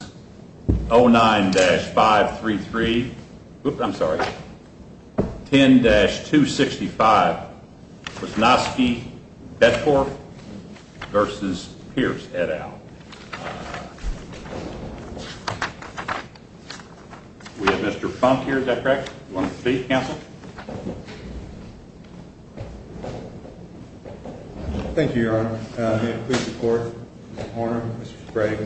et al. We have Mr. Funk here, is that correct? Do you want to speak, counsel? Thank you, Your Honor. May it please the Court, Mr. Horner, Mr. Sprague,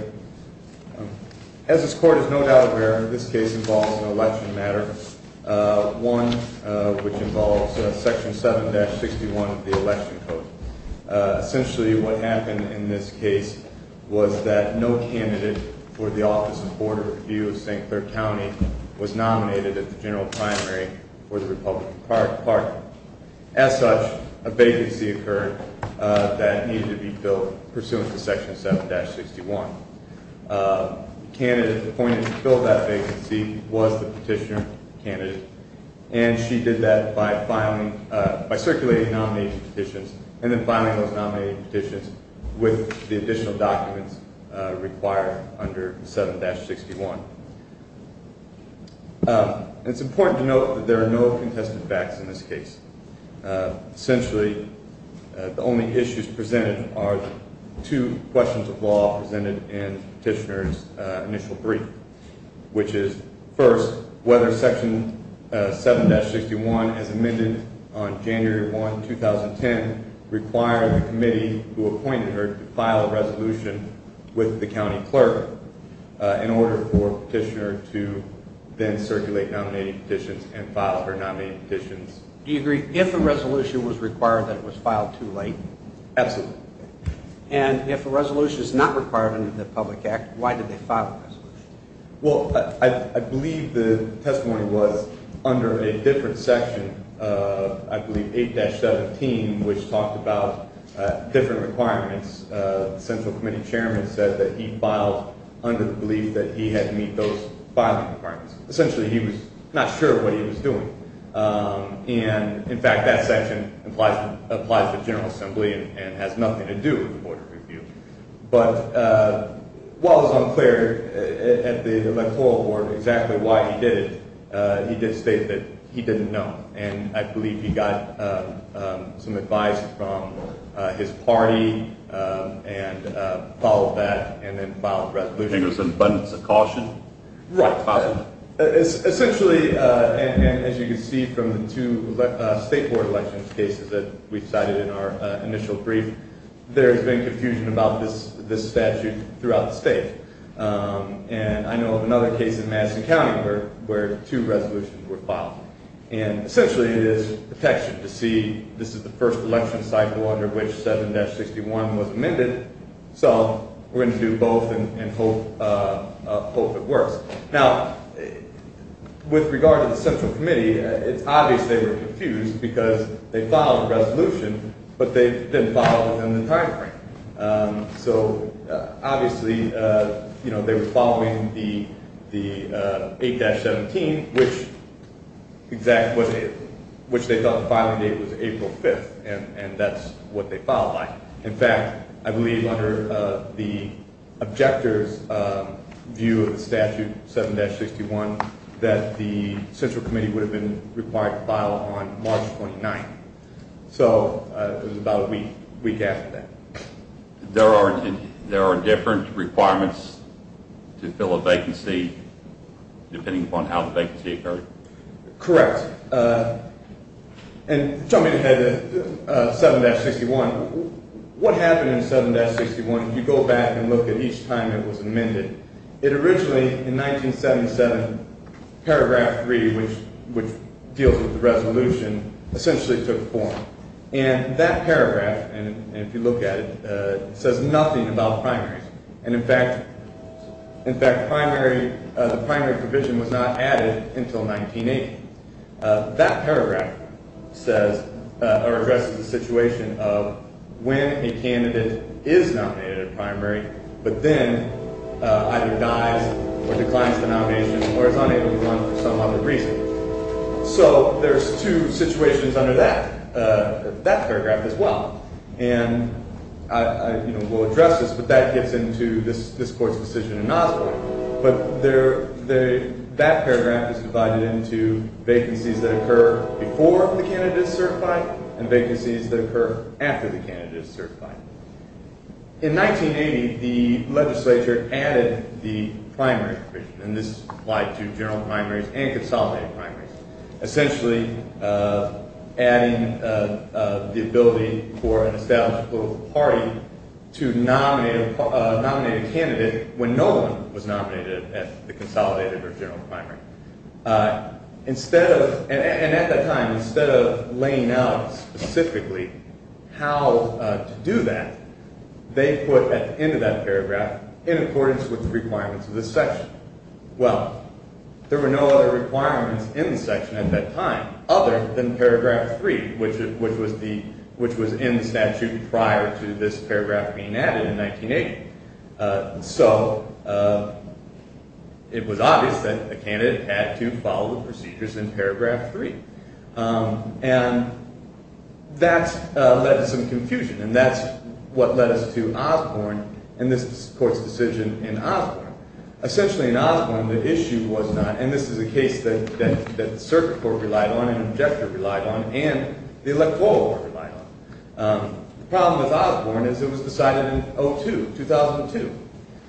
As this Court is no doubt aware, this case involves an election matter, one which involves Section 7-61 of the Election Code. Essentially what happened in this case was that no candidate for the Office of Board of Review of St. Clair County was nominated at the general primary for the Republican party. As such, a vacancy occurred that needed to be filled pursuant to Section 7-61. The candidate appointed to fill that vacancy was the petitioner candidate, and she did that by circulating nominating petitions and then filing those nominating petitions with the additional documents required under 7-61. It's important to note that there are no contested facts in this case. Essentially, the only issues presented are two questions of law presented in the petitioner's initial brief, which is first, whether Section 7-61 as amended on January 1, 2010, required the committee who appointed her to file a resolution with the county clerk in order for the petitioner to then circulate nominating petitions and file her nominating petitions. Do you agree if a resolution was required that it was filed too late? Absolutely. And if a resolution is not required under the public act, why did they file a resolution? Well, I believe the testimony was under a different section, I believe 8-17, which talked about different requirements. The central committee chairman said that he filed under the belief that he had to meet those filing requirements. Essentially, he was not sure what he was doing. And, in fact, that section applies to the General Assembly and has nothing to do with the Board of Review. But while it was unclear at the Electoral Board exactly why he did it, he did state that he didn't know. And I believe he got some advice from his party and followed that and then filed a resolution. I think it was an abundance of caution. Right. Essentially, as you can see from the two state board elections cases that we cited in our initial brief, there has been confusion about this statute throughout the state. And I know of another case in Madison County where two resolutions were filed. And, essentially, it is protection to see this is the first election cycle under which 7-61 was amended. So we're going to do both and hope it works. Now, with regard to the central committee, it's obvious they were confused because they filed a resolution, but they didn't follow it within the timeframe. So, obviously, they were following the 8-17, which they thought the filing date was April 5th, and that's what they filed by. In fact, I believe under the objector's view of the statute, 7-61, that the central committee would have been required to file on March 29th. So it was about a week after that. There are different requirements to fill a vacancy depending upon how the vacancy occurred? Correct. And jumping ahead to 7-61, what happened in 7-61, if you go back and look at each time it was amended, it originally, in 1977, paragraph 3, which deals with the resolution, essentially took form. And that paragraph, if you look at it, says nothing about primaries. And, in fact, the primary provision was not added until 1980. That paragraph says, or addresses the situation of when a candidate is nominated at a primary, but then either dies or declines the nomination or is unable to run for some other reason. So there's two situations under that paragraph as well. And I will address this, but that gets into this Court's decision in Osborne. But that paragraph is divided into vacancies that occur before the candidate is certified and vacancies that occur after the candidate is certified. In 1980, the legislature added the primary provision, and this applied to general primaries and consolidated primaries, essentially adding the ability for an established political party to nominate a candidate when no one was nominated at the consolidated or general primary. And at that time, instead of laying out specifically how to do that, they put at the end of that paragraph, in accordance with the requirements of this section. Well, there were no other requirements in the section at that time other than paragraph 3, which was in the statute prior to this paragraph being added in 1980. So it was obvious that the candidate had to follow the procedures in paragraph 3. And that led to some confusion, and that's what led us to Osborne and this Court's decision in Osborne. Essentially, in Osborne, the issue was not – and this is a case that the Circuit Court relied on and the Objector relied on and the Electoral Court relied on. The problem with Osborne is it was decided in 2002.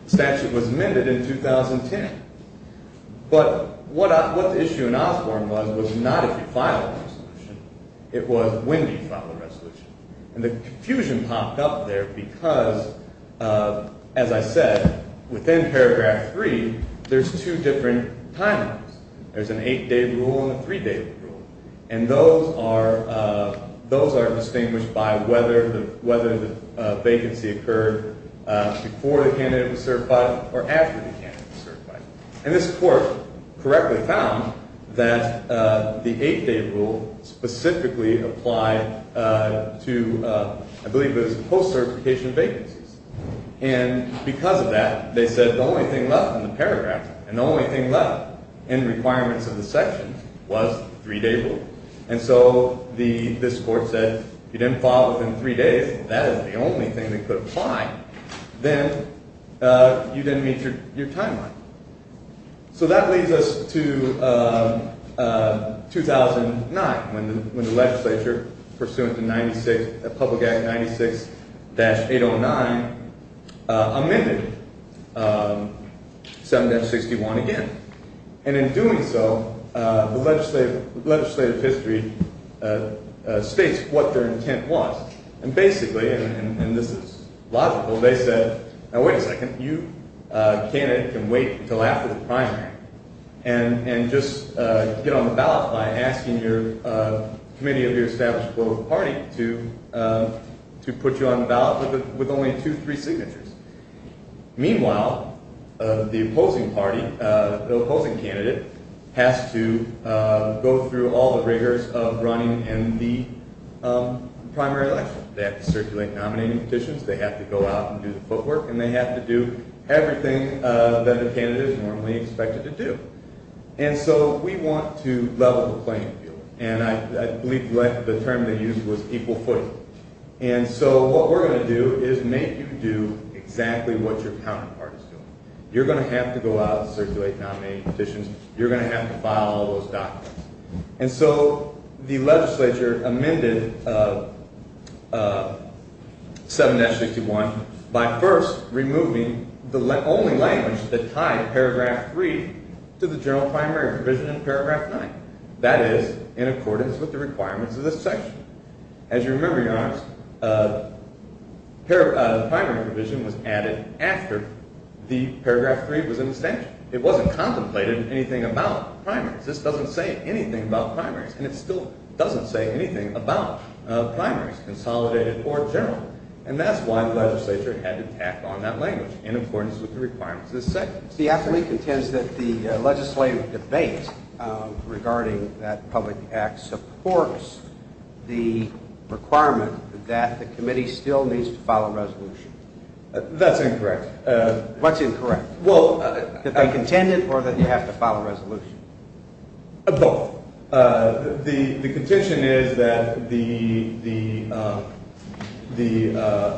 The statute was amended in 2010. But what the issue in Osborne was was not if you filed a resolution. It was when do you file a resolution. And the confusion popped up there because, as I said, within paragraph 3, there's two different timelines. There's an eight-day rule and a three-day rule. And those are distinguished by whether the vacancy occurred before the candidate was certified or after the candidate was certified. And this Court correctly found that the eight-day rule specifically applied to – I believe it was post-certification vacancies. And because of that, they said the only thing left in the paragraph and the only thing left in requirements of the section was the three-day rule. And so this Court said if you didn't file within three days, that is the only thing that could apply, then you didn't meet your timeline. So that leads us to 2009 when the legislature, pursuant to Public Act 96-809, amended 7-61 again. And in doing so, the legislative history states what their intent was. And basically – and this is logical – they said, now wait a second. You, a candidate, can wait until after the primary and just get on the ballot by asking your committee of your established political party to put you on the ballot with only two, three signatures. Meanwhile, the opposing candidate has to go through all the rigors of running in the primary election. They have to circulate nominating petitions, they have to go out and do the footwork, and they have to do everything that the candidate is normally expected to do. And so we want to level the playing field. And I believe the term they used was equal footing. And so what we're going to do is make you do exactly what your counterpart is doing. You're going to have to go out and circulate nominating petitions. You're going to have to file all those documents. And so the legislature amended 7-61 by first removing the only language that tied paragraph 3 to the general primary provision in paragraph 9. That is, in accordance with the requirements of this section. As you remember, Your Honor, the primary provision was added after the paragraph 3 was in the statute. It wasn't contemplated in anything about primaries. This doesn't say anything about primaries. And it still doesn't say anything about primaries, consolidated or general. And that's why the legislature had to tack on that language in accordance with the requirements of this section. The appellee contends that the legislative debate regarding that public act supports the requirement that the committee still needs to file a resolution. That's incorrect. What's incorrect? That they contended or that you have to file a resolution? Both. The contention is that the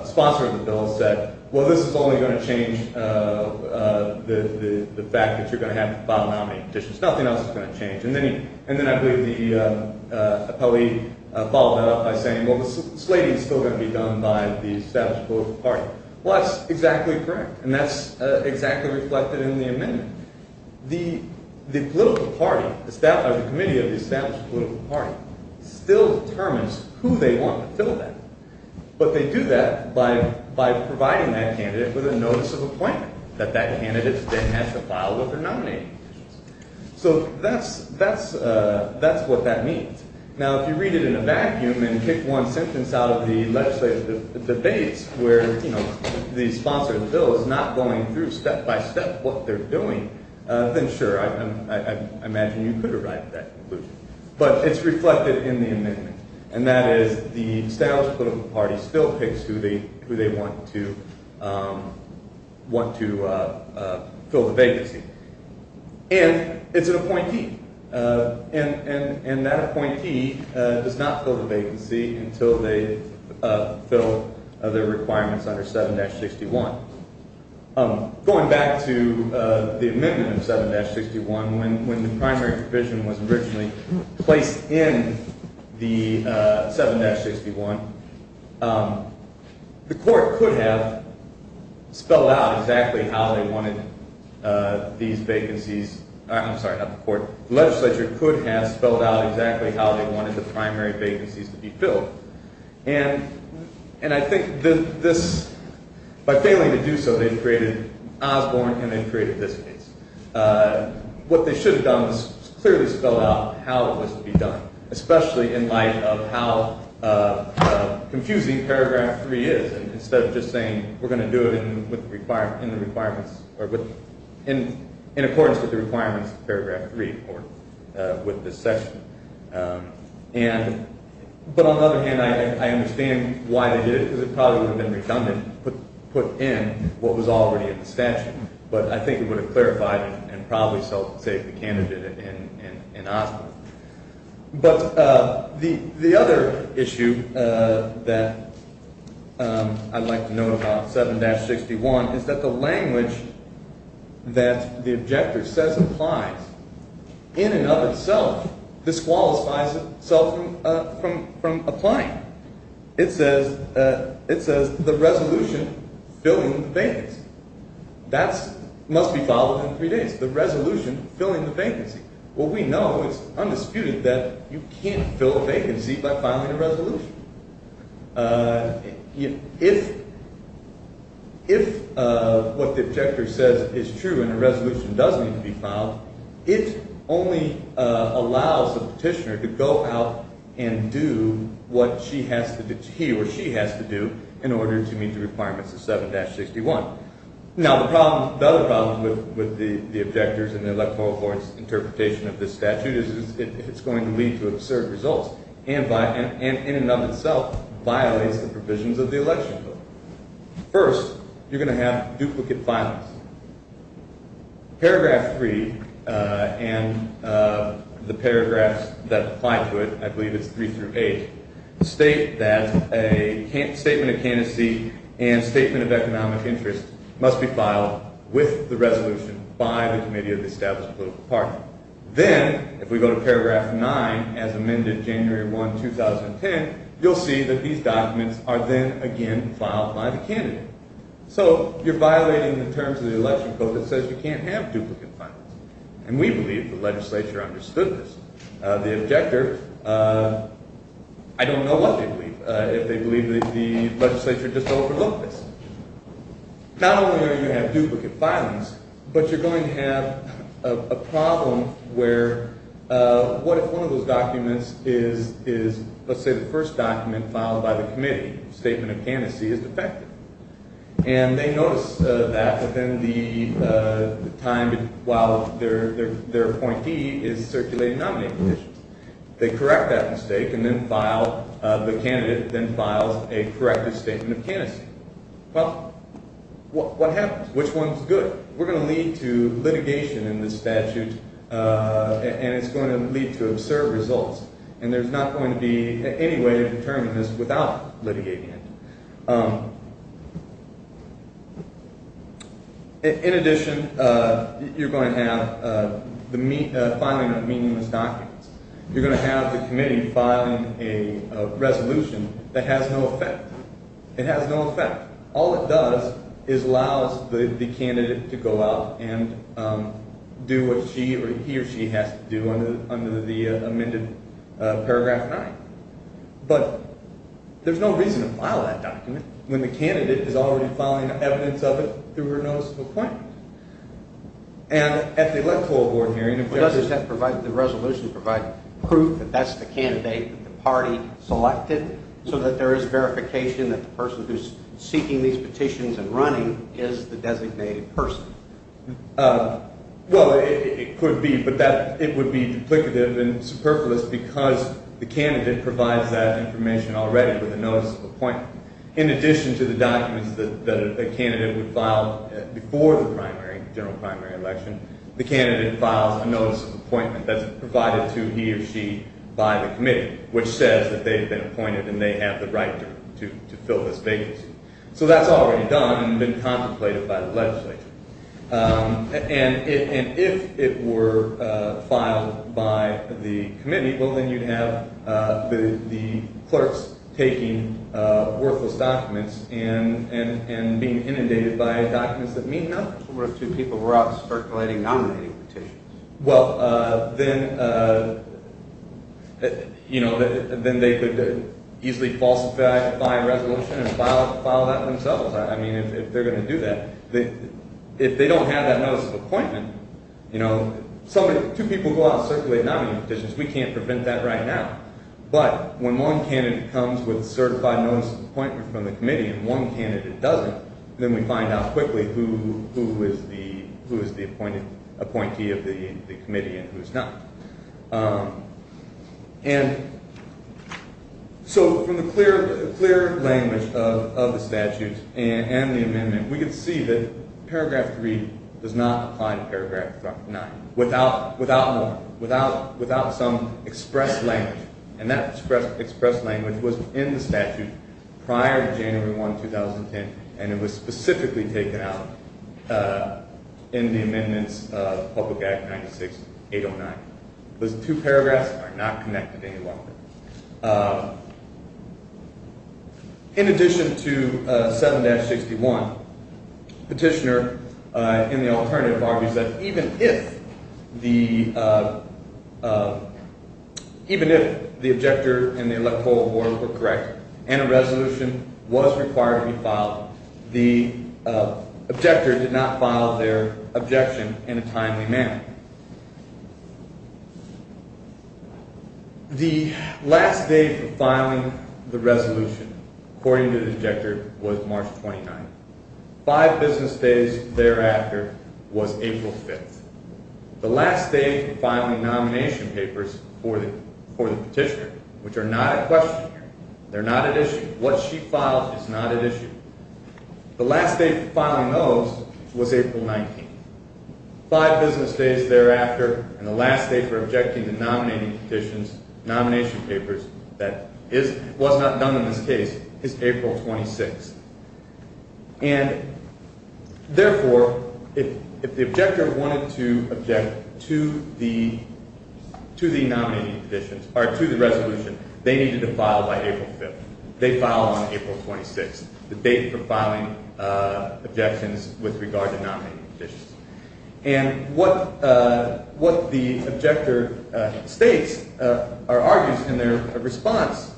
sponsor of the bill said, well, this is only going to change the fact that you're going to have to file a nominating petition. There's nothing else that's going to change. And then I believe the appellee followed that up by saying, well, the slating is still going to be done by the established political party. Well, that's exactly correct. And that's exactly reflected in the amendment. The committee of the established political party still determines who they want to fill that. But they do that by providing that candidate with a notice of appointment that that candidate then has to file with their nominating petitions. So that's what that means. Now, if you read it in a vacuum and pick one sentence out of the legislative debates where the sponsor of the bill is not going through step by step what they're doing, then sure, I imagine you could arrive at that conclusion. But it's reflected in the amendment. And that is the established political party still picks who they want to fill the vacancy. And it's an appointee. And that appointee does not fill the vacancy until they fill their requirements under 7-61. Going back to the amendment of 7-61, when the primary provision was originally placed in the 7-61, the legislature could have spelled out exactly how they wanted the primary vacancies to be filled. And I think by failing to do so, they've created Osborne and they've created this case. What they should have done was clearly spell out how it was to be done, especially in light of how confusing Paragraph 3 is instead of just saying we're going to do it in accordance with the requirements of Paragraph 3 or with this section. But on the other hand, I understand why they did it because it probably would have been redundant to put in what was already in the statute. But I think it would have clarified and probably saved the candidate in Osborne. But the other issue that I'd like to note about 7-61 is that the language that the objector says applies in and of itself disqualifies itself from applying. It says the resolution filling the vacancy. That must be followed in three days, the resolution filling the vacancy. What we know is undisputed that you can't fill a vacancy by filing a resolution. If what the objector says is true and a resolution does need to be filed, it only allows the petitioner to go out and do what he or she has to do in order to meet the requirements of 7-61. Now, the other problem with the objector's and the electoral court's interpretation of this statute is it's going to lead to absurd results and in and of itself violates the provisions of the election code. First, you're going to have duplicate filings. Paragraph 3 and the paragraphs that apply to it, I believe it's 3-8, state that a statement of candidacy and statement of economic interest must be filed with the resolution by the committee of the established political party. Then, if we go to paragraph 9, as amended January 1, 2010, you'll see that these documents are then again filed by the candidate. So, you're violating the terms of the election code that says you can't have duplicate filings. And we believe the legislature understood this. The objector, I don't know what they believe. If they believe that the legislature just overlooked this. Not only are you going to have duplicate filings, but you're going to have a problem where what if one of those documents is, let's say, the first document filed by the committee. A statement of candidacy is defective. And they notice that within the time while their appointee is circulating nominating conditions. They correct that mistake and then file, the candidate then files a corrective statement of candidacy. Well, what happens? Which one's good? We're going to lead to litigation in this statute and it's going to lead to absurd results. And there's not going to be any way to determine this without litigation. In addition, you're going to have the filing of meaningless documents. You're going to have the committee filing a resolution that has no effect. It has no effect. All it does is allows the candidate to go out and do what she or he or she has to do under the amended paragraph 9. But there's no reason to file that document when the candidate is already filing evidence of it through her notice of appointment. And at the electoral board hearing if there's... Does that provide, the resolution provide proof that that's the candidate that the party selected, so that there is verification that the person who's seeking these petitions and running is the designated person? Well, it could be. But it would be duplicative and superfluous because the candidate provides that information already with a notice of appointment. In addition to the documents that a candidate would file before the general primary election, the candidate files a notice of appointment that's provided to he or she by the committee, which says that they've been appointed and they have the right to fill this vacancy. So that's already done and been contemplated by the legislature. And if it were filed by the committee, well, then you'd have the clerks taking worthless documents and being inundated by documents that mean nothing. What if two people were out circulating nominating petitions? Well, then they could easily falsify a resolution and file that themselves. I mean, if they're going to do that, if they don't have that notice of appointment, two people go out circulating nominating petitions, we can't prevent that right now. But when one candidate comes with a certified notice of appointment from the committee and one candidate doesn't, then we find out quickly who is the appointee of the committee and who's not. And so from the clear language of the statute and the amendment, we can see that Paragraph 3 does not apply to Paragraph 9 without some expressed language. And that expressed language was in the statute prior to January 1, 2010, and it was specifically taken out in the amendments of Public Act 96-809. Those two paragraphs are not connected any longer. In addition to 7-61, Petitioner in the alternative argues that even if the objector and the electoral board were correct and a resolution was required to be filed, the objector did not file their objection in a timely manner. The last day for filing the resolution, according to the objector, was March 29. Five business days thereafter was April 5. The last day for filing nomination papers for the petitioner, which are not at question here, they're not at issue. What she filed is not at issue. The last day for filing those was April 19. Five business days thereafter, and the last day for objecting to nominating petitions, nomination papers, that was not done in this case, is April 26. And therefore, if the objector wanted to object to the nominating petitions, or to the resolution, they needed to file by April 5. They filed on April 26, the date for filing objections with regard to nominating petitions. And what the objector states, or argues in their response,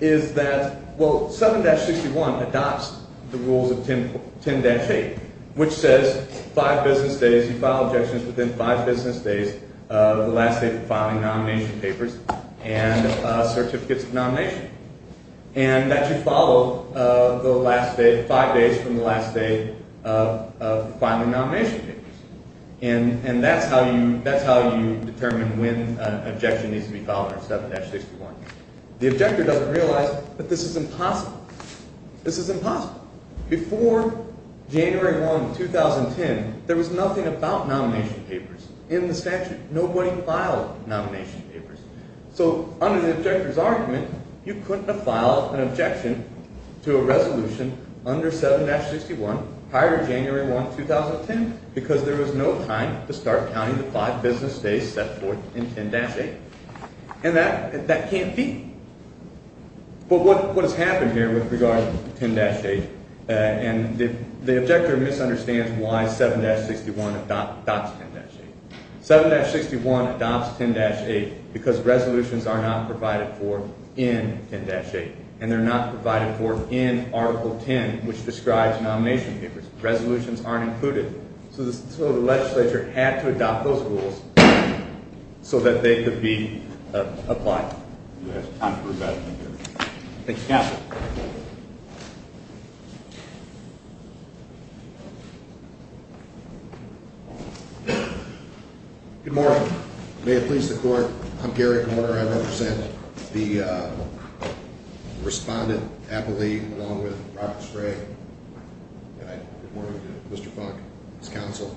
is that 7-61 adopts the rules of 10-8, which says five business days, you file objections within five business days of the last day for filing nomination papers and certificates of nomination. And that you follow the last day, five days from the last day of filing nomination papers. And that's how you determine when an objection needs to be filed under 7-61. The objector doesn't realize that this is impossible. This is impossible. Before January 1, 2010, there was nothing about nomination papers in the statute. Nobody filed nomination papers. So under the objector's argument, you couldn't have filed an objection to a resolution under 7-61, higher than January 1, 2010, because there was no time to start counting the five business days set forth in 10-8. And that can't be. But what has happened here with regard to 10-8, and the objector misunderstands why 7-61 adopts 10-8. 7-61 adopts 10-8 because resolutions are not provided for in 10-8. And they're not provided for in Article 10, which describes nomination papers. Resolutions aren't included. So the legislature had to adopt those rules so that they could be applied. Thank you. Thank you, Counsel. Good morning. May it please the Court. I'm Gary Korner. I represent the respondent appellee along with Robert Stray. And I report to Mr. Funk, his counsel.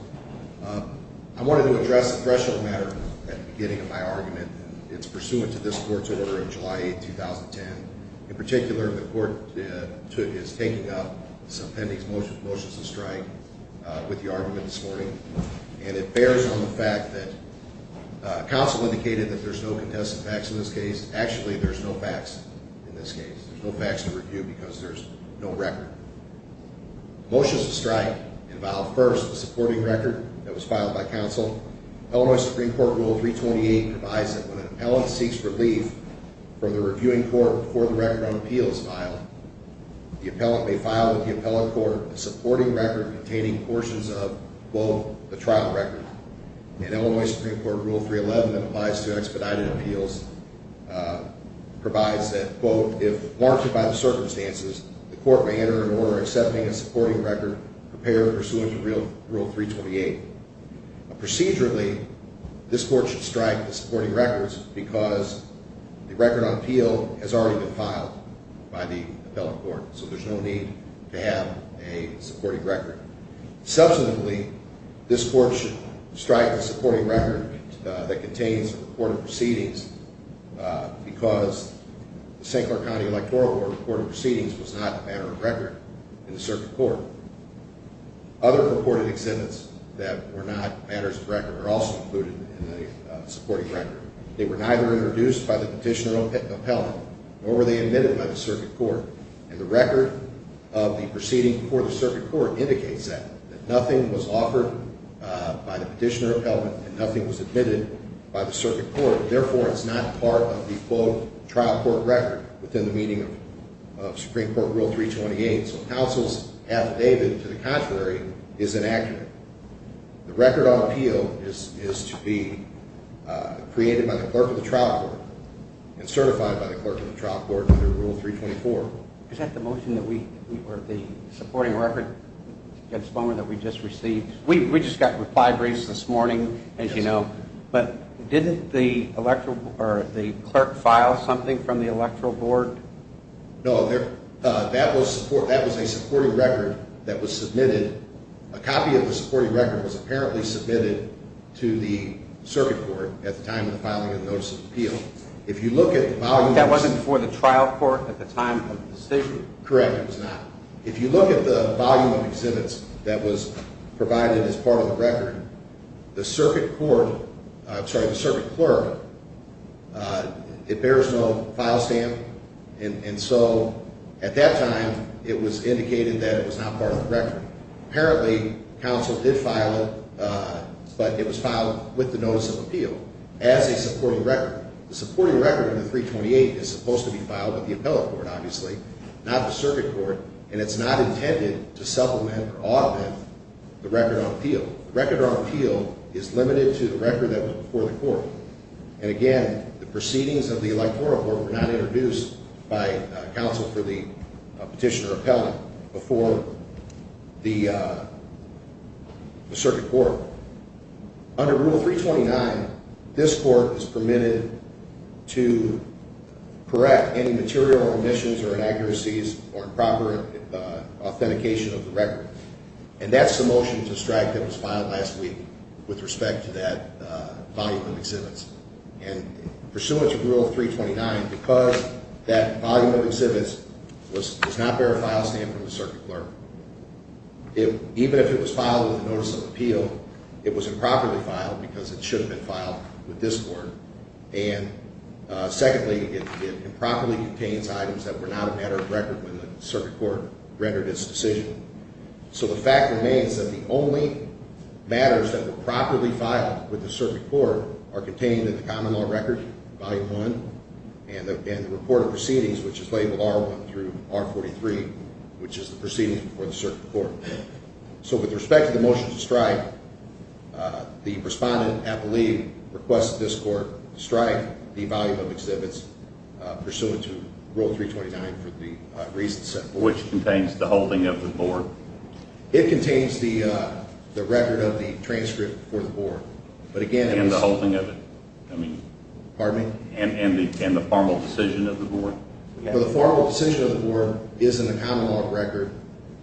I wanted to address the threshold matter at the beginning of my argument. It's pursuant to this Court's order of July 8, 2010. In particular, the Court is taking up this appending motion to strike with the argument this morning. And it bears on the fact that counsel indicated that there's no contested facts in this case. Actually, there's no facts in this case. There's no facts to review because there's no record. Motions to strike involve, first, the supporting record that was filed by counsel. Illinois Supreme Court Rule 328 provides that when an appellant seeks relief from the reviewing court before the record on appeal is filed, the appellant may file with the appellant court a supporting record containing portions of, quote, the trial record. And Illinois Supreme Court Rule 311 that applies to expedited appeals provides that, quote, if warranted by the circumstances, the court may enter an order accepting a supporting record prepared pursuant to Rule 328. Procedurally, this Court should strike the supporting records because the record on appeal has already been filed by the appellant court. So there's no need to have a supporting record. Subsequently, this Court should strike the supporting record that contains reported proceedings because the St. Clair County Electoral Board reported proceedings was not a matter of record in the circuit court. Other reported exhibits that were not matters of record are also included in the supporting record. They were neither introduced by the petitioner or appellant, nor were they admitted by the circuit court. And the record of the proceeding before the circuit court indicates that, that nothing was offered by the petitioner or appellant and nothing was admitted by the circuit court. Therefore, it's not part of the, quote, trial court record within the meaning of Supreme Court Rule 328. So counsel's affidavit to the contrary is inaccurate. The record on appeal is to be created by the clerk of the trial court and certified by the clerk of the trial court under Rule 324. Is that the motion that we, or the supporting record that we just received? We just got reply briefs this morning, as you know. But didn't the clerk file something from the Electoral Board? No, that was a supporting record that was submitted. A copy of the supporting record was apparently submitted to the circuit court at the time of the filing of the notice of appeal. If you look at the volume... That wasn't for the trial court at the time of the decision? Correct, it was not. If you look at the volume of exhibits that was provided as part of the record, the circuit court, I'm sorry, the circuit clerk, it bears no file stamp. And so at that time, it was indicated that it was not part of the record. Apparently, counsel did file it, but it was filed with the notice of appeal as a supporting record. The supporting record in the 328 is supposed to be filed with the appellate court, obviously, not the circuit court. And it's not intended to supplement or augment the record on appeal. The record on appeal is limited to the record that was before the court. And again, the proceedings of the Electoral Court were not introduced by counsel for the petitioner appellate before the circuit court. Under Rule 329, this court is permitted to correct any material omissions or inaccuracies or improper authentication of the record. And that's the motion to strike that was filed last week with respect to that volume of exhibits. And pursuant to Rule 329, because that volume of exhibits does not bear a file stamp from the circuit clerk, even if it was filed with a notice of appeal, it was improperly filed because it should have been filed with this court. And secondly, it improperly contains items that were not a matter of record when the circuit court rendered its decision. So the fact remains that the only matters that were properly filed with the circuit court are contained in the common law record, Volume 1, and the report of proceedings, which is labeled R1 through R43, which is the proceedings before the circuit court. So with respect to the motion to strike, the respondent appellee requests that this court strike the volume of exhibits pursuant to Rule 329 for the reason set forth. Which contains the holding of the board? It contains the record of the transcript for the board. And the holding of it? Pardon me? And the formal decision of the board? The formal decision of the board is in the common law record,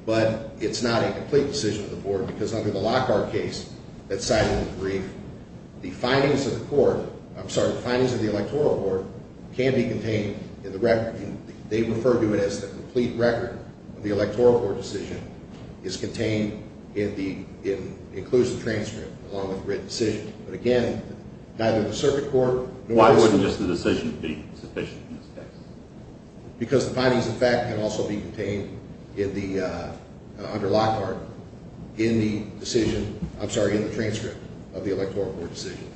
but it's not a complete decision of the board because under the Lockhart case that's cited in the brief, the findings of the court, I'm sorry, the findings of the Electoral Court can be contained in the record. They refer to it as the complete record of the Electoral Court decision is contained in the inclusive transcript along with the written decision. But again, neither the circuit court nor the circuit... Why wouldn't just the decision be sufficient in this case? Because the findings of fact can also be contained in the, under Lockhart, in the decision, I'm sorry, in the transcript of the Electoral Court decision.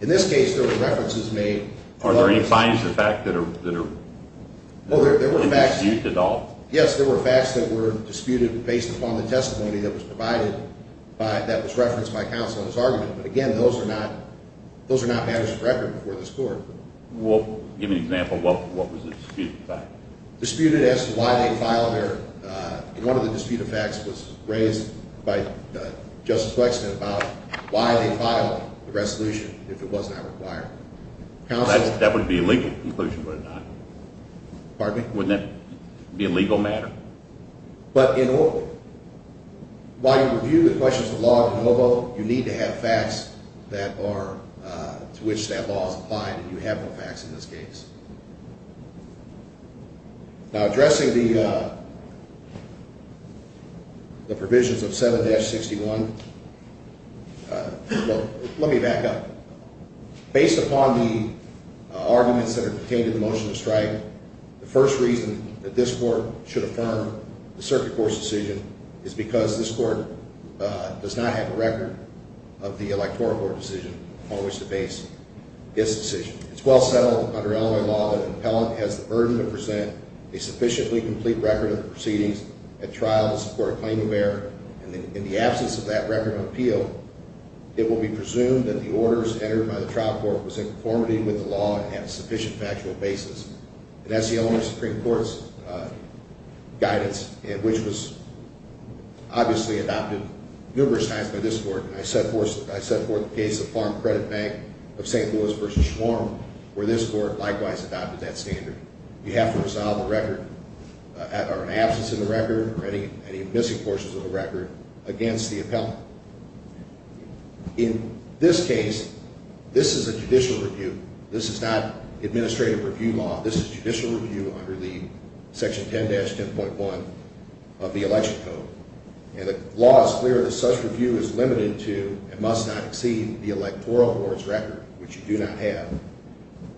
In this case, there were references made... Are there any findings of fact that are... Well, there were facts... That weren't disputed at all? Yes, there were facts that were disputed based upon the testimony that was provided by, that was referenced by counsel in his argument. But again, those are not matters of record before this court. Well, give me an example of what was the dispute of facts. Disputed as to why they filed their... One of the dispute of facts was raised by Justice Flexman about why they filed the resolution if it was not required. That would be a legal conclusion, would it not? Pardon me? Wouldn't that be a legal matter? But in order... While you review the questions of log and LOBO, you need to have facts that are... To which that law is applied, and you have no facts in this case. Now, addressing the... The provisions of 7-61... Well, let me back up. Based upon the arguments that are contained in the motion of strike... The first reason that this court should affirm the circuit court's decision is because this court does not have a record of the electoral board decision on which to base its decision. It's well settled under Illinois law that an appellant has the burden to present a sufficiently complete record of the proceedings at trial to support a claim of error. In the absence of that record of appeal, it will be presumed that the orders entered by the trial court was in conformity with the law and have a sufficient factual basis. And that's the Illinois Supreme Court's guidance, which was obviously adopted numerous times by this court. And I set forth the case of Farm Credit Bank of St. Louis v. Schwarm, where this court likewise adopted that standard. You have to resolve a record... Or an absence of a record or any missing portions of a record against the appellant. In this case, this is a judicial review. This is not administrative review law. This is judicial review under the Section 10-10.1 of the Election Code. And the law is clear that such review is limited to and must not exceed the electoral board's record, which you do not have.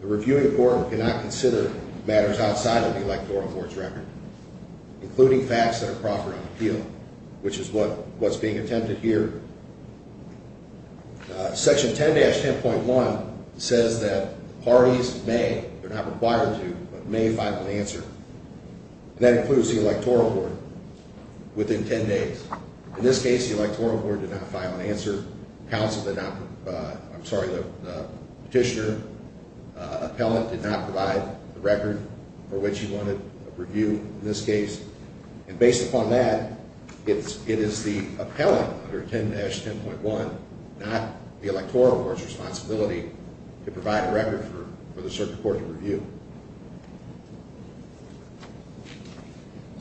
The reviewing court cannot consider matters outside of the electoral board's record, including facts that are proper on appeal, which is what's being attempted here. Section 10-10.1 says that parties may, if they're not required to, may file an answer. And that includes the electoral board within 10 days. In this case, the electoral board did not file an answer. The petitioner, the appellant, did not provide the record for which he wanted a review in this case. And based upon that, it is the appellant under 10-10.1, not the electoral board's responsibility to provide a record for the circuit court to review.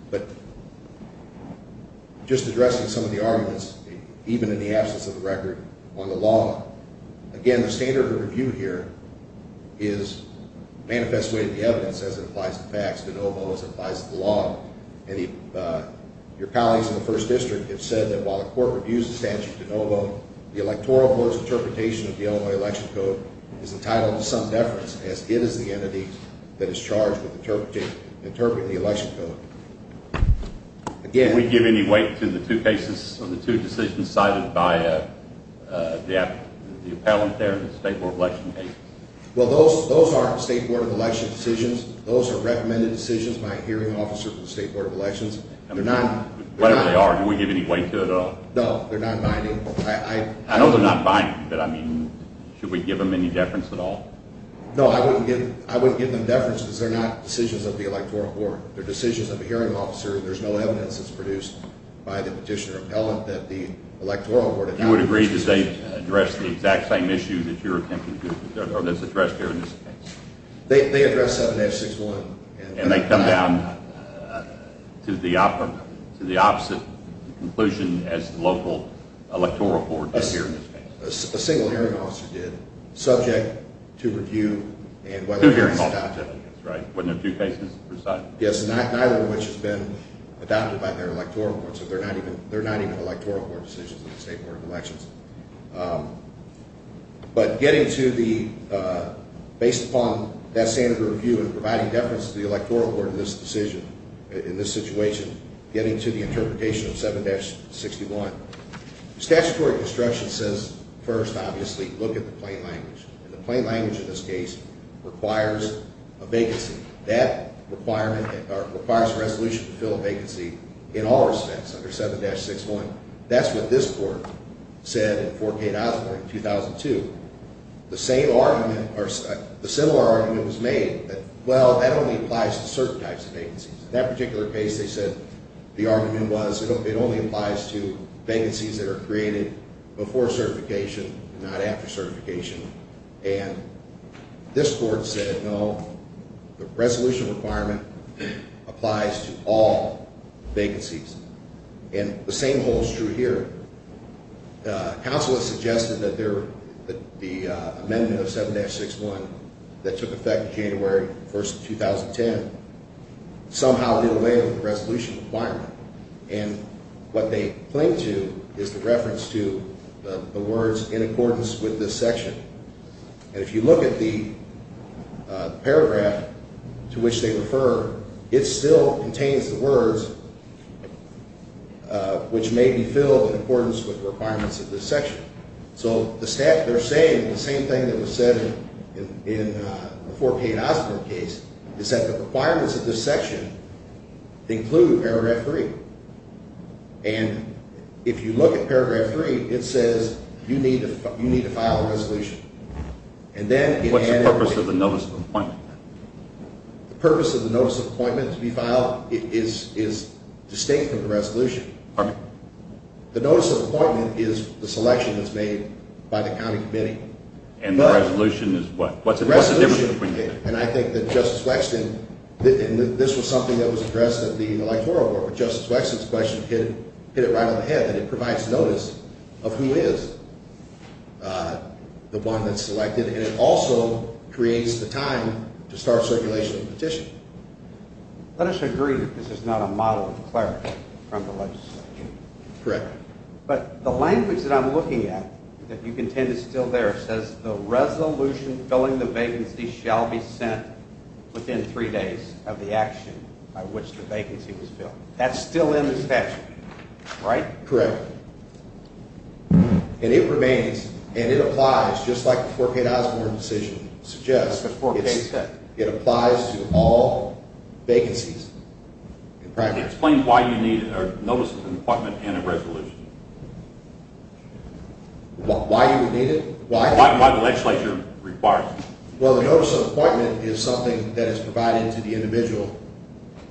But just addressing some of the arguments, even in the absence of a record, on the law. Again, the standard of review here is manifestly in the evidence as it applies to facts, de novo, as it applies to the law. Your colleagues in the First District have said that while the court reviews the statute de novo, the electoral board's interpretation of the Illinois Election Code is entitled to some deference, as it is the entity that is charged with interpreting the Election Code. Can we give any weight to the two decisions cited by the appellant there in the state board of election case? Well, those aren't state board of election decisions. Those are recommended decisions by a hearing officer for the state board of elections. Whatever they are, can we give any weight to it at all? No, they're not binding. I know they're not binding, but I mean, should we give them any deference at all? No, I wouldn't give them deference, because they're not decisions of the electoral board. They're decisions of a hearing officer, and there's no evidence that's produced by the petitioner appellant that the electoral board had had a decision. You would agree that they address the exact same issue that you're attempting to do, or that's addressed here in this case? They address 7F61. And they come down to the opposite conclusion as the local electoral board does here in this case? A single hearing officer did, subject to review. Two hearing officers, right? Wasn't it two cases per side? Yes, neither of which has been adopted by their electoral board, so they're not even electoral board decisions in the state board of elections. But getting to the, based upon that standard of review and providing deference to the electoral board in this decision, in this situation, getting to the interpretation of 7-61, statutory construction says, first, obviously, look at the plain language. And the plain language in this case requires a vacancy. That requirement, or requires a resolution to fill a vacancy in all respects under 7-61. That's what this court said in 4K Osborne in 2002. The same argument, or the similar argument was made that, well, that only applies to certain types of vacancies. In that particular case, they said the argument was it only applies to vacancies that are created before certification, not after certification. And this court said, no, the resolution requirement applies to all vacancies. And the same holds true here. Counsel has suggested that the amendment of 7-61 that took effect January 1st, 2010, somehow did away with the resolution requirement. And what they cling to is the reference to the words, in accordance with this section. And if you look at the paragraph to which they refer, it still contains the words, which may be filled in accordance with the requirements of this section. So they're saying the same thing that was said in the 4K Osborne case, is that the requirements of this section include paragraph 3. And if you look at paragraph 3, it says you need to file a resolution. What's the purpose of the notice of appointment? The purpose of the notice of appointment to be filed is distinct from the resolution. The notice of appointment is the selection that's made by the county committee. And the resolution is what? What's the difference between them? And I think that Justice Wexton, and this was something that was addressed at the electoral board, but Justice Wexton's question hit it right on the head, that it provides notice of who is the one that's selected, and it also creates the time to start circulation of the petition. Let us agree that this is not a model of clarity from the legislature. Correct. But the language that I'm looking at, that you contend is still there, says the resolution filling the vacancy shall be sent within three days of the action by which the vacancy was filled. That's still in the statute, right? Correct. And it remains, and it applies, just like the 4K Osborne decision suggests, it applies to all vacancies. Explain why you need a notice of appointment and a resolution. Why you would need it? Why? Why the legislature requires it. Well, the notice of appointment is something that is provided to the individual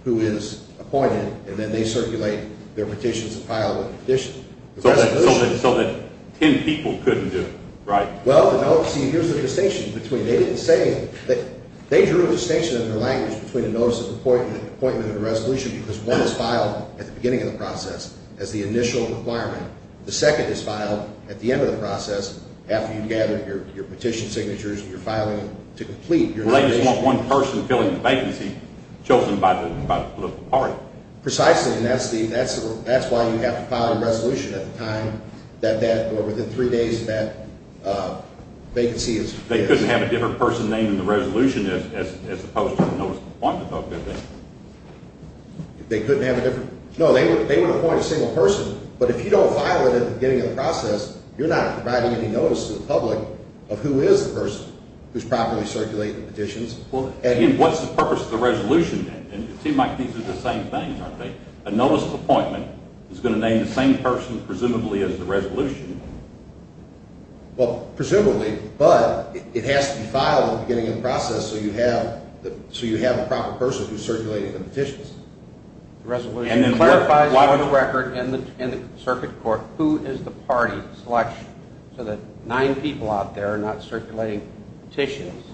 who is appointed, and then they circulate their petitions and file the petition. So that ten people couldn't do it, right? Well, see, here's the distinction. They drew a distinction in their language between a notice of appointment and a resolution because one is filed at the beginning of the process as the initial requirement. The second is filed at the end of the process after you've gathered your petition signatures and you're filing to complete your legislation. Well, they just want one person filling the vacancy chosen by the political party. Precisely, and that's why you have to file a resolution at the time that, or within three days, that vacancy is filled. They couldn't have a different person named in the resolution as opposed to the notice of appointment, though, could they? They couldn't have a different – no, they would appoint a single person, but if you don't file it at the beginning of the process, you're not providing any notice to the public of who is the person who's properly circulating the petitions. What's the purpose of the resolution then? It seems like these are the same things, aren't they? A notice of appointment is going to name the same person, presumably, as the resolution. Well, presumably, but it has to be filed at the beginning of the process so you have a proper person who's circulating the petitions. And it clarifies on the record in the circuit court who is the party selection so that nine people out there are not circulating petitions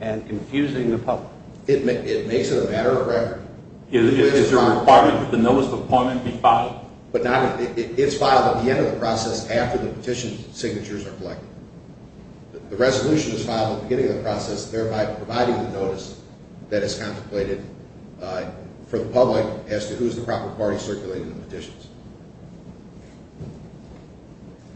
and confusing the public. It makes it a matter of record. It's a requirement that the notice of appointment be filed. But it's filed at the end of the process after the petition signatures are collected. The resolution is filed at the beginning of the process, thereby providing the notice that is contemplated for the public as to who is the proper party circulating the petitions.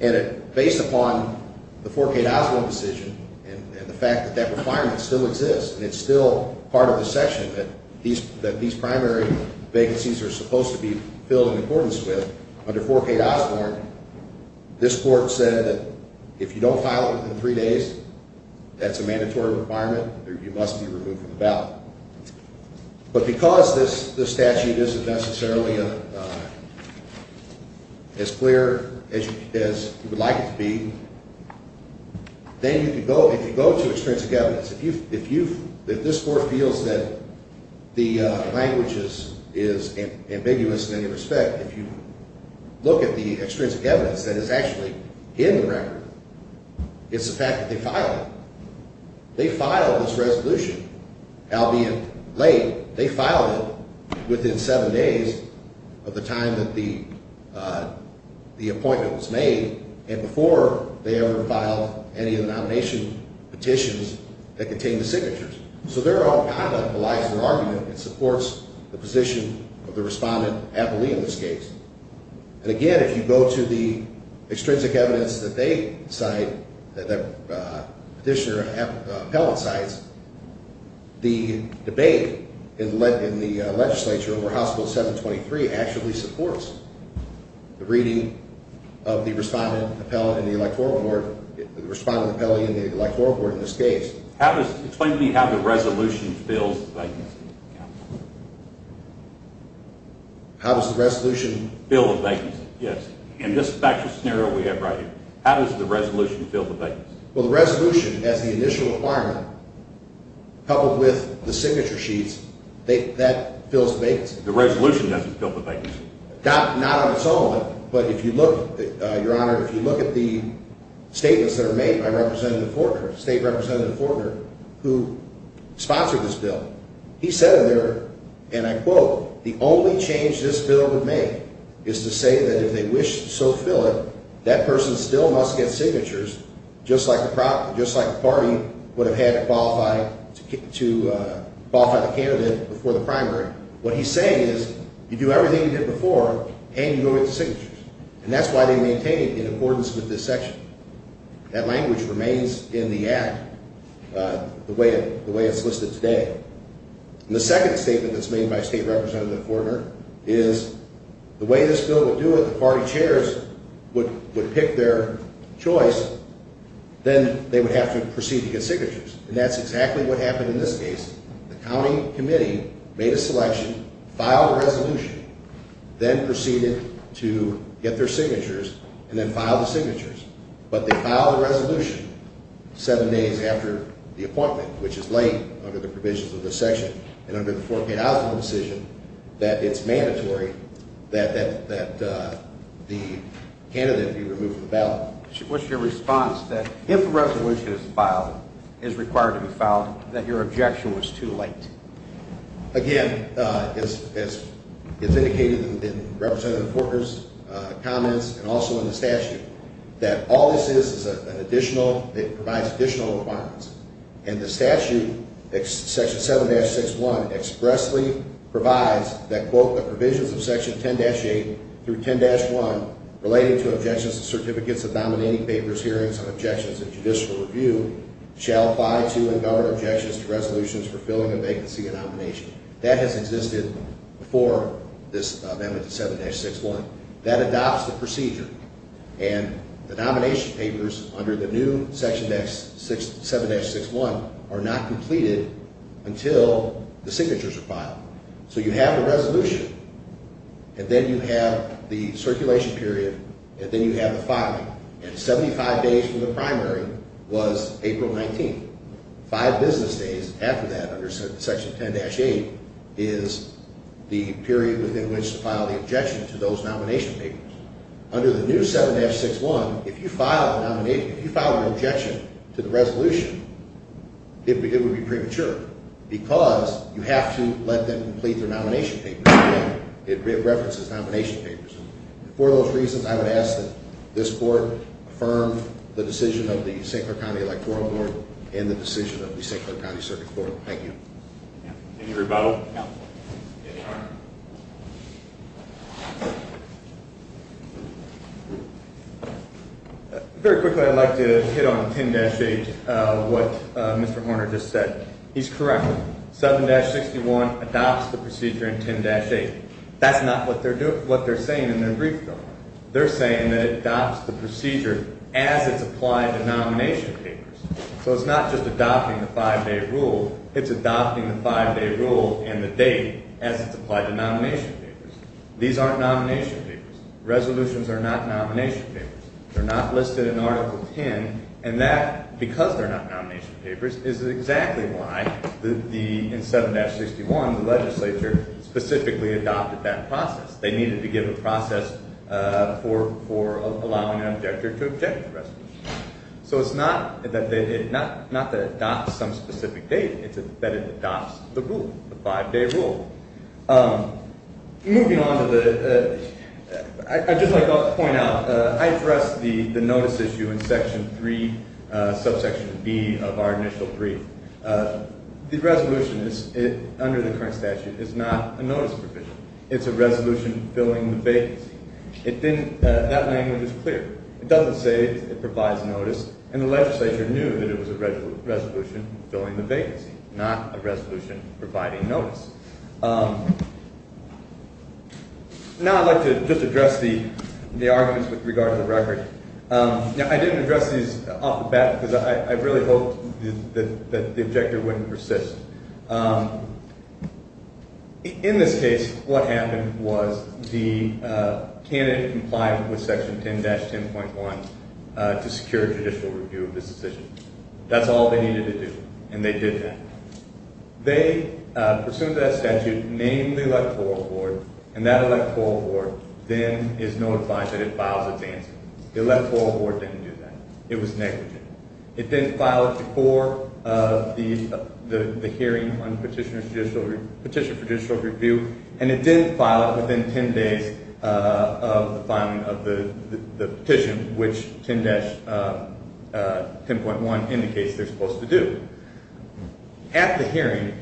And based upon the 4K to Osborne decision and the fact that that requirement still exists and it's still part of the section that these primary vacancies are supposed to be filled in accordance with, under 4K to Osborne, this court said that if you don't file it within three days, that's a mandatory requirement. You must be removed from the ballot. But because this statute isn't necessarily as clear as you would like it to be, then if you go to extrinsic evidence, if this court feels that the language is ambiguous in any respect, if you look at the extrinsic evidence that is actually in the record, it's the fact that they filed it. They filed this resolution, albeit late. They filed it within seven days of the time that the appointment was made and before they ever filed any of the nomination petitions that contained the signatures. So therein lies their argument. It supports the position of the respondent appellee in this case. And again, if you go to the extrinsic evidence that they cite, that petitioner appellate cites, the debate in the legislature over House Bill 723 actually supports the reading of the respondent appellee in the electoral board in this case. Explain to me how the resolution fills the vacancy. How does the resolution fill the vacancy? Yes. In this factual scenario we have right here, how does the resolution fill the vacancy? Well, the resolution, as the initial requirement, coupled with the signature sheets, that fills the vacancy. The resolution doesn't fill the vacancy. Not on its own, but if you look, Your Honor, if you look at the statements that are made by Representative Fortner, State Representative Fortner, who sponsored this bill, he said in there, and I quote, The only change this bill would make is to say that if they wish to so fill it, that person still must get signatures, just like the party would have had to qualify the candidate before the primary. What he's saying is, you do everything you did before, and you go get the signatures. And that's why they maintain it in accordance with this section. That language remains in the act the way it's listed today. The second statement that's made by State Representative Fortner is, the way this bill will do it, if the party chairs would pick their choice, then they would have to proceed to get signatures. And that's exactly what happened in this case. The county committee made a selection, filed a resolution, then proceeded to get their signatures, and then filed the signatures. But they filed a resolution seven days after the appointment, which is late under the provisions of this section. And under the forepaid outflow decision, that it's mandatory that the candidate be removed from the ballot. What's your response that if a resolution is filed, is required to be filed, that your objection was too late? Again, as indicated in Representative Fortner's comments, and also in the statute, that all this is is an additional, it provides additional requirements. And the statute, section 7-6-1, expressly provides that, quote, the provisions of section 10-8 through 10-1, relating to objections to certificates of dominating papers, hearings, and objections in judicial review, shall apply to and govern objections to resolutions for filling a vacancy in nomination. That has existed before this amendment to 7-6-1. That adopts the procedure. And the nomination papers under the new section, 7-6-1, are not completed until the signatures are filed. So you have the resolution, and then you have the circulation period, and then you have the filing. And 75 days from the primary was April 19th. Five business days after that, under section 10-8, is the period within which to file the objection to those nomination papers. Under the new 7-6-1, if you file an objection to the resolution, it would be premature. Because you have to let them complete their nomination papers. It references nomination papers. For those reasons, I would ask that this court affirm the decision of the St. Clair County Electoral Board and the decision of the St. Clair County Circuit Court. Thank you. Any rebuttal? No. Mr. Horner. Very quickly, I'd like to hit on 10-8, what Mr. Horner just said. He's correct. 7-61 adopts the procedure in 10-8. That's not what they're saying in their brief, though. They're saying that it adopts the procedure as it's applied to nomination papers. So it's not just adopting the five-day rule. It's adopting the five-day rule and the date as it's applied to nomination papers. These aren't nomination papers. Resolutions are not nomination papers. They're not listed in Article 10. And that, because they're not nomination papers, is exactly why in 7-61 the legislature specifically adopted that process. They needed to give a process for allowing an objector to object to resolutions. So it's not that it adopts some specific date. It's that it adopts the rule, the five-day rule. Moving on to the – I'd just like to point out, I addressed the notice issue in Section 3, subsection B of our initial brief. The resolution under the current statute is not a notice provision. It's a resolution filling the vacancy. It didn't – that language is clear. It doesn't say it provides notice. And the legislature knew that it was a resolution filling the vacancy, not a resolution providing notice. Now I'd like to just address the arguments with regard to the record. I didn't address these off the bat because I really hoped that the objector wouldn't persist. In this case, what happened was the candidate complied with Section 10-10.1 to secure judicial review of this decision. That's all they needed to do, and they did that. They pursued that statute, named the electoral board, and that electoral board then is notified that it files its answer. The electoral board didn't do that. It was negligent. It didn't file it before the hearing on petition for judicial review, and it didn't file it within 10 days of the filing of the petition, which 10-10.1 indicates they're supposed to do. At the hearing,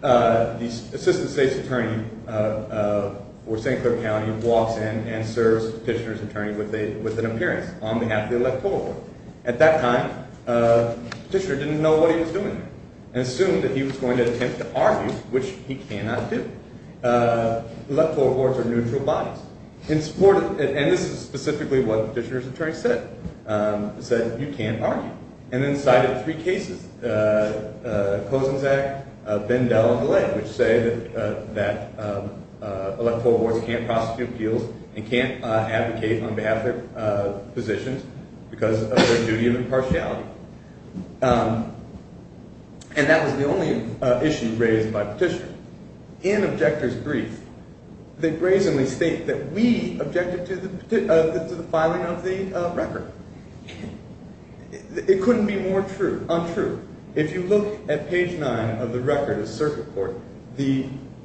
the assistant state's attorney for St. Clair County walks in and serves Petitioner's attorney with an appearance on behalf of the electoral board. At that time, Petitioner didn't know what he was doing and assumed that he was going to attempt to argue, which he cannot do. Electoral boards are neutral bodies. And this is specifically what Petitioner's attorney said. He said, you can't argue, and then cited three cases, Kozenczak, Bindel, and DeLay, which say that electoral boards can't prosecute appeals and can't advocate on behalf of their positions because of their duty of impartiality. And that was the only issue raised by Petitioner. In objector's brief, they brazenly state that we objected to the filing of the record. It couldn't be more untrue. If you look at page 9 of the record of Circuit Court,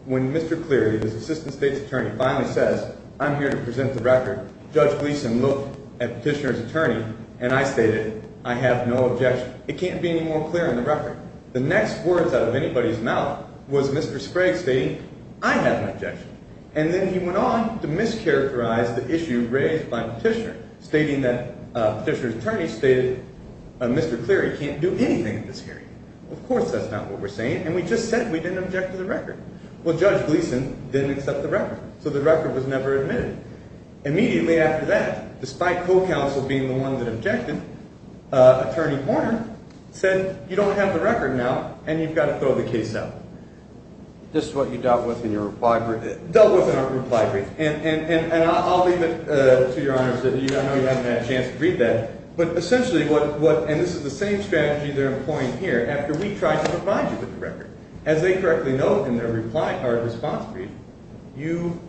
when Mr. Cleary, the assistant state's attorney, finally says, I'm here to present the record, Judge Gleeson looked at Petitioner's attorney, and I stated, I have no objection. It can't be any more clear in the record. The next words out of anybody's mouth was Mr. Sprague stating, I have no objection. And then he went on to mischaracterize the issue raised by Petitioner, stating that Petitioner's attorney stated, Mr. Cleary can't do anything in this hearing. Of course that's not what we're saying, and we just said we didn't object to the record. Well, Judge Gleeson didn't accept the record, so the record was never admitted. Immediately after that, despite co-counsel being the one that objected, attorney Horner said, you don't have the record now, and you've got to throw the case out. This is what you dealt with in your reply brief? Dealt with in our reply brief, and I'll leave it to your honors. I know you haven't had a chance to read that. But essentially what, and this is the same strategy they're employing here after we tried to provide you with the record. As they correctly note in their response brief, you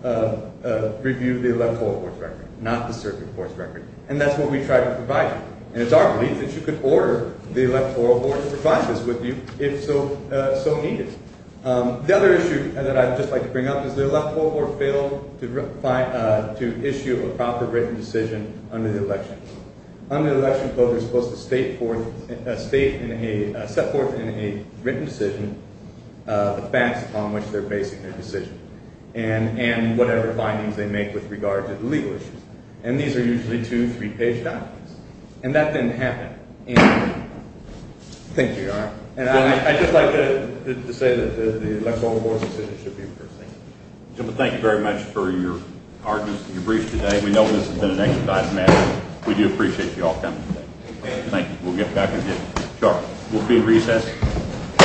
reviewed the Electoral Board's record, not the Circuit Court's record. And that's what we tried to provide you. And it's our belief that you could order the Electoral Board to provide this with you if so needed. The other issue that I'd just like to bring up is the Electoral Board failed to issue a proper written decision under the election. Under the election, voters are supposed to set forth in a written decision the facts upon which they're basing their decision, and whatever findings they make with regard to the legal issues. And these are usually two, three-page documents. And that didn't happen. Thank you, Your Honor. And I'd just like to say that the Electoral Board's decision should be reversed. Thank you very much for your brief today. We know this has been an exercise in matters. We do appreciate you all coming today. Thank you. We'll get back in here shortly. We'll be in recess.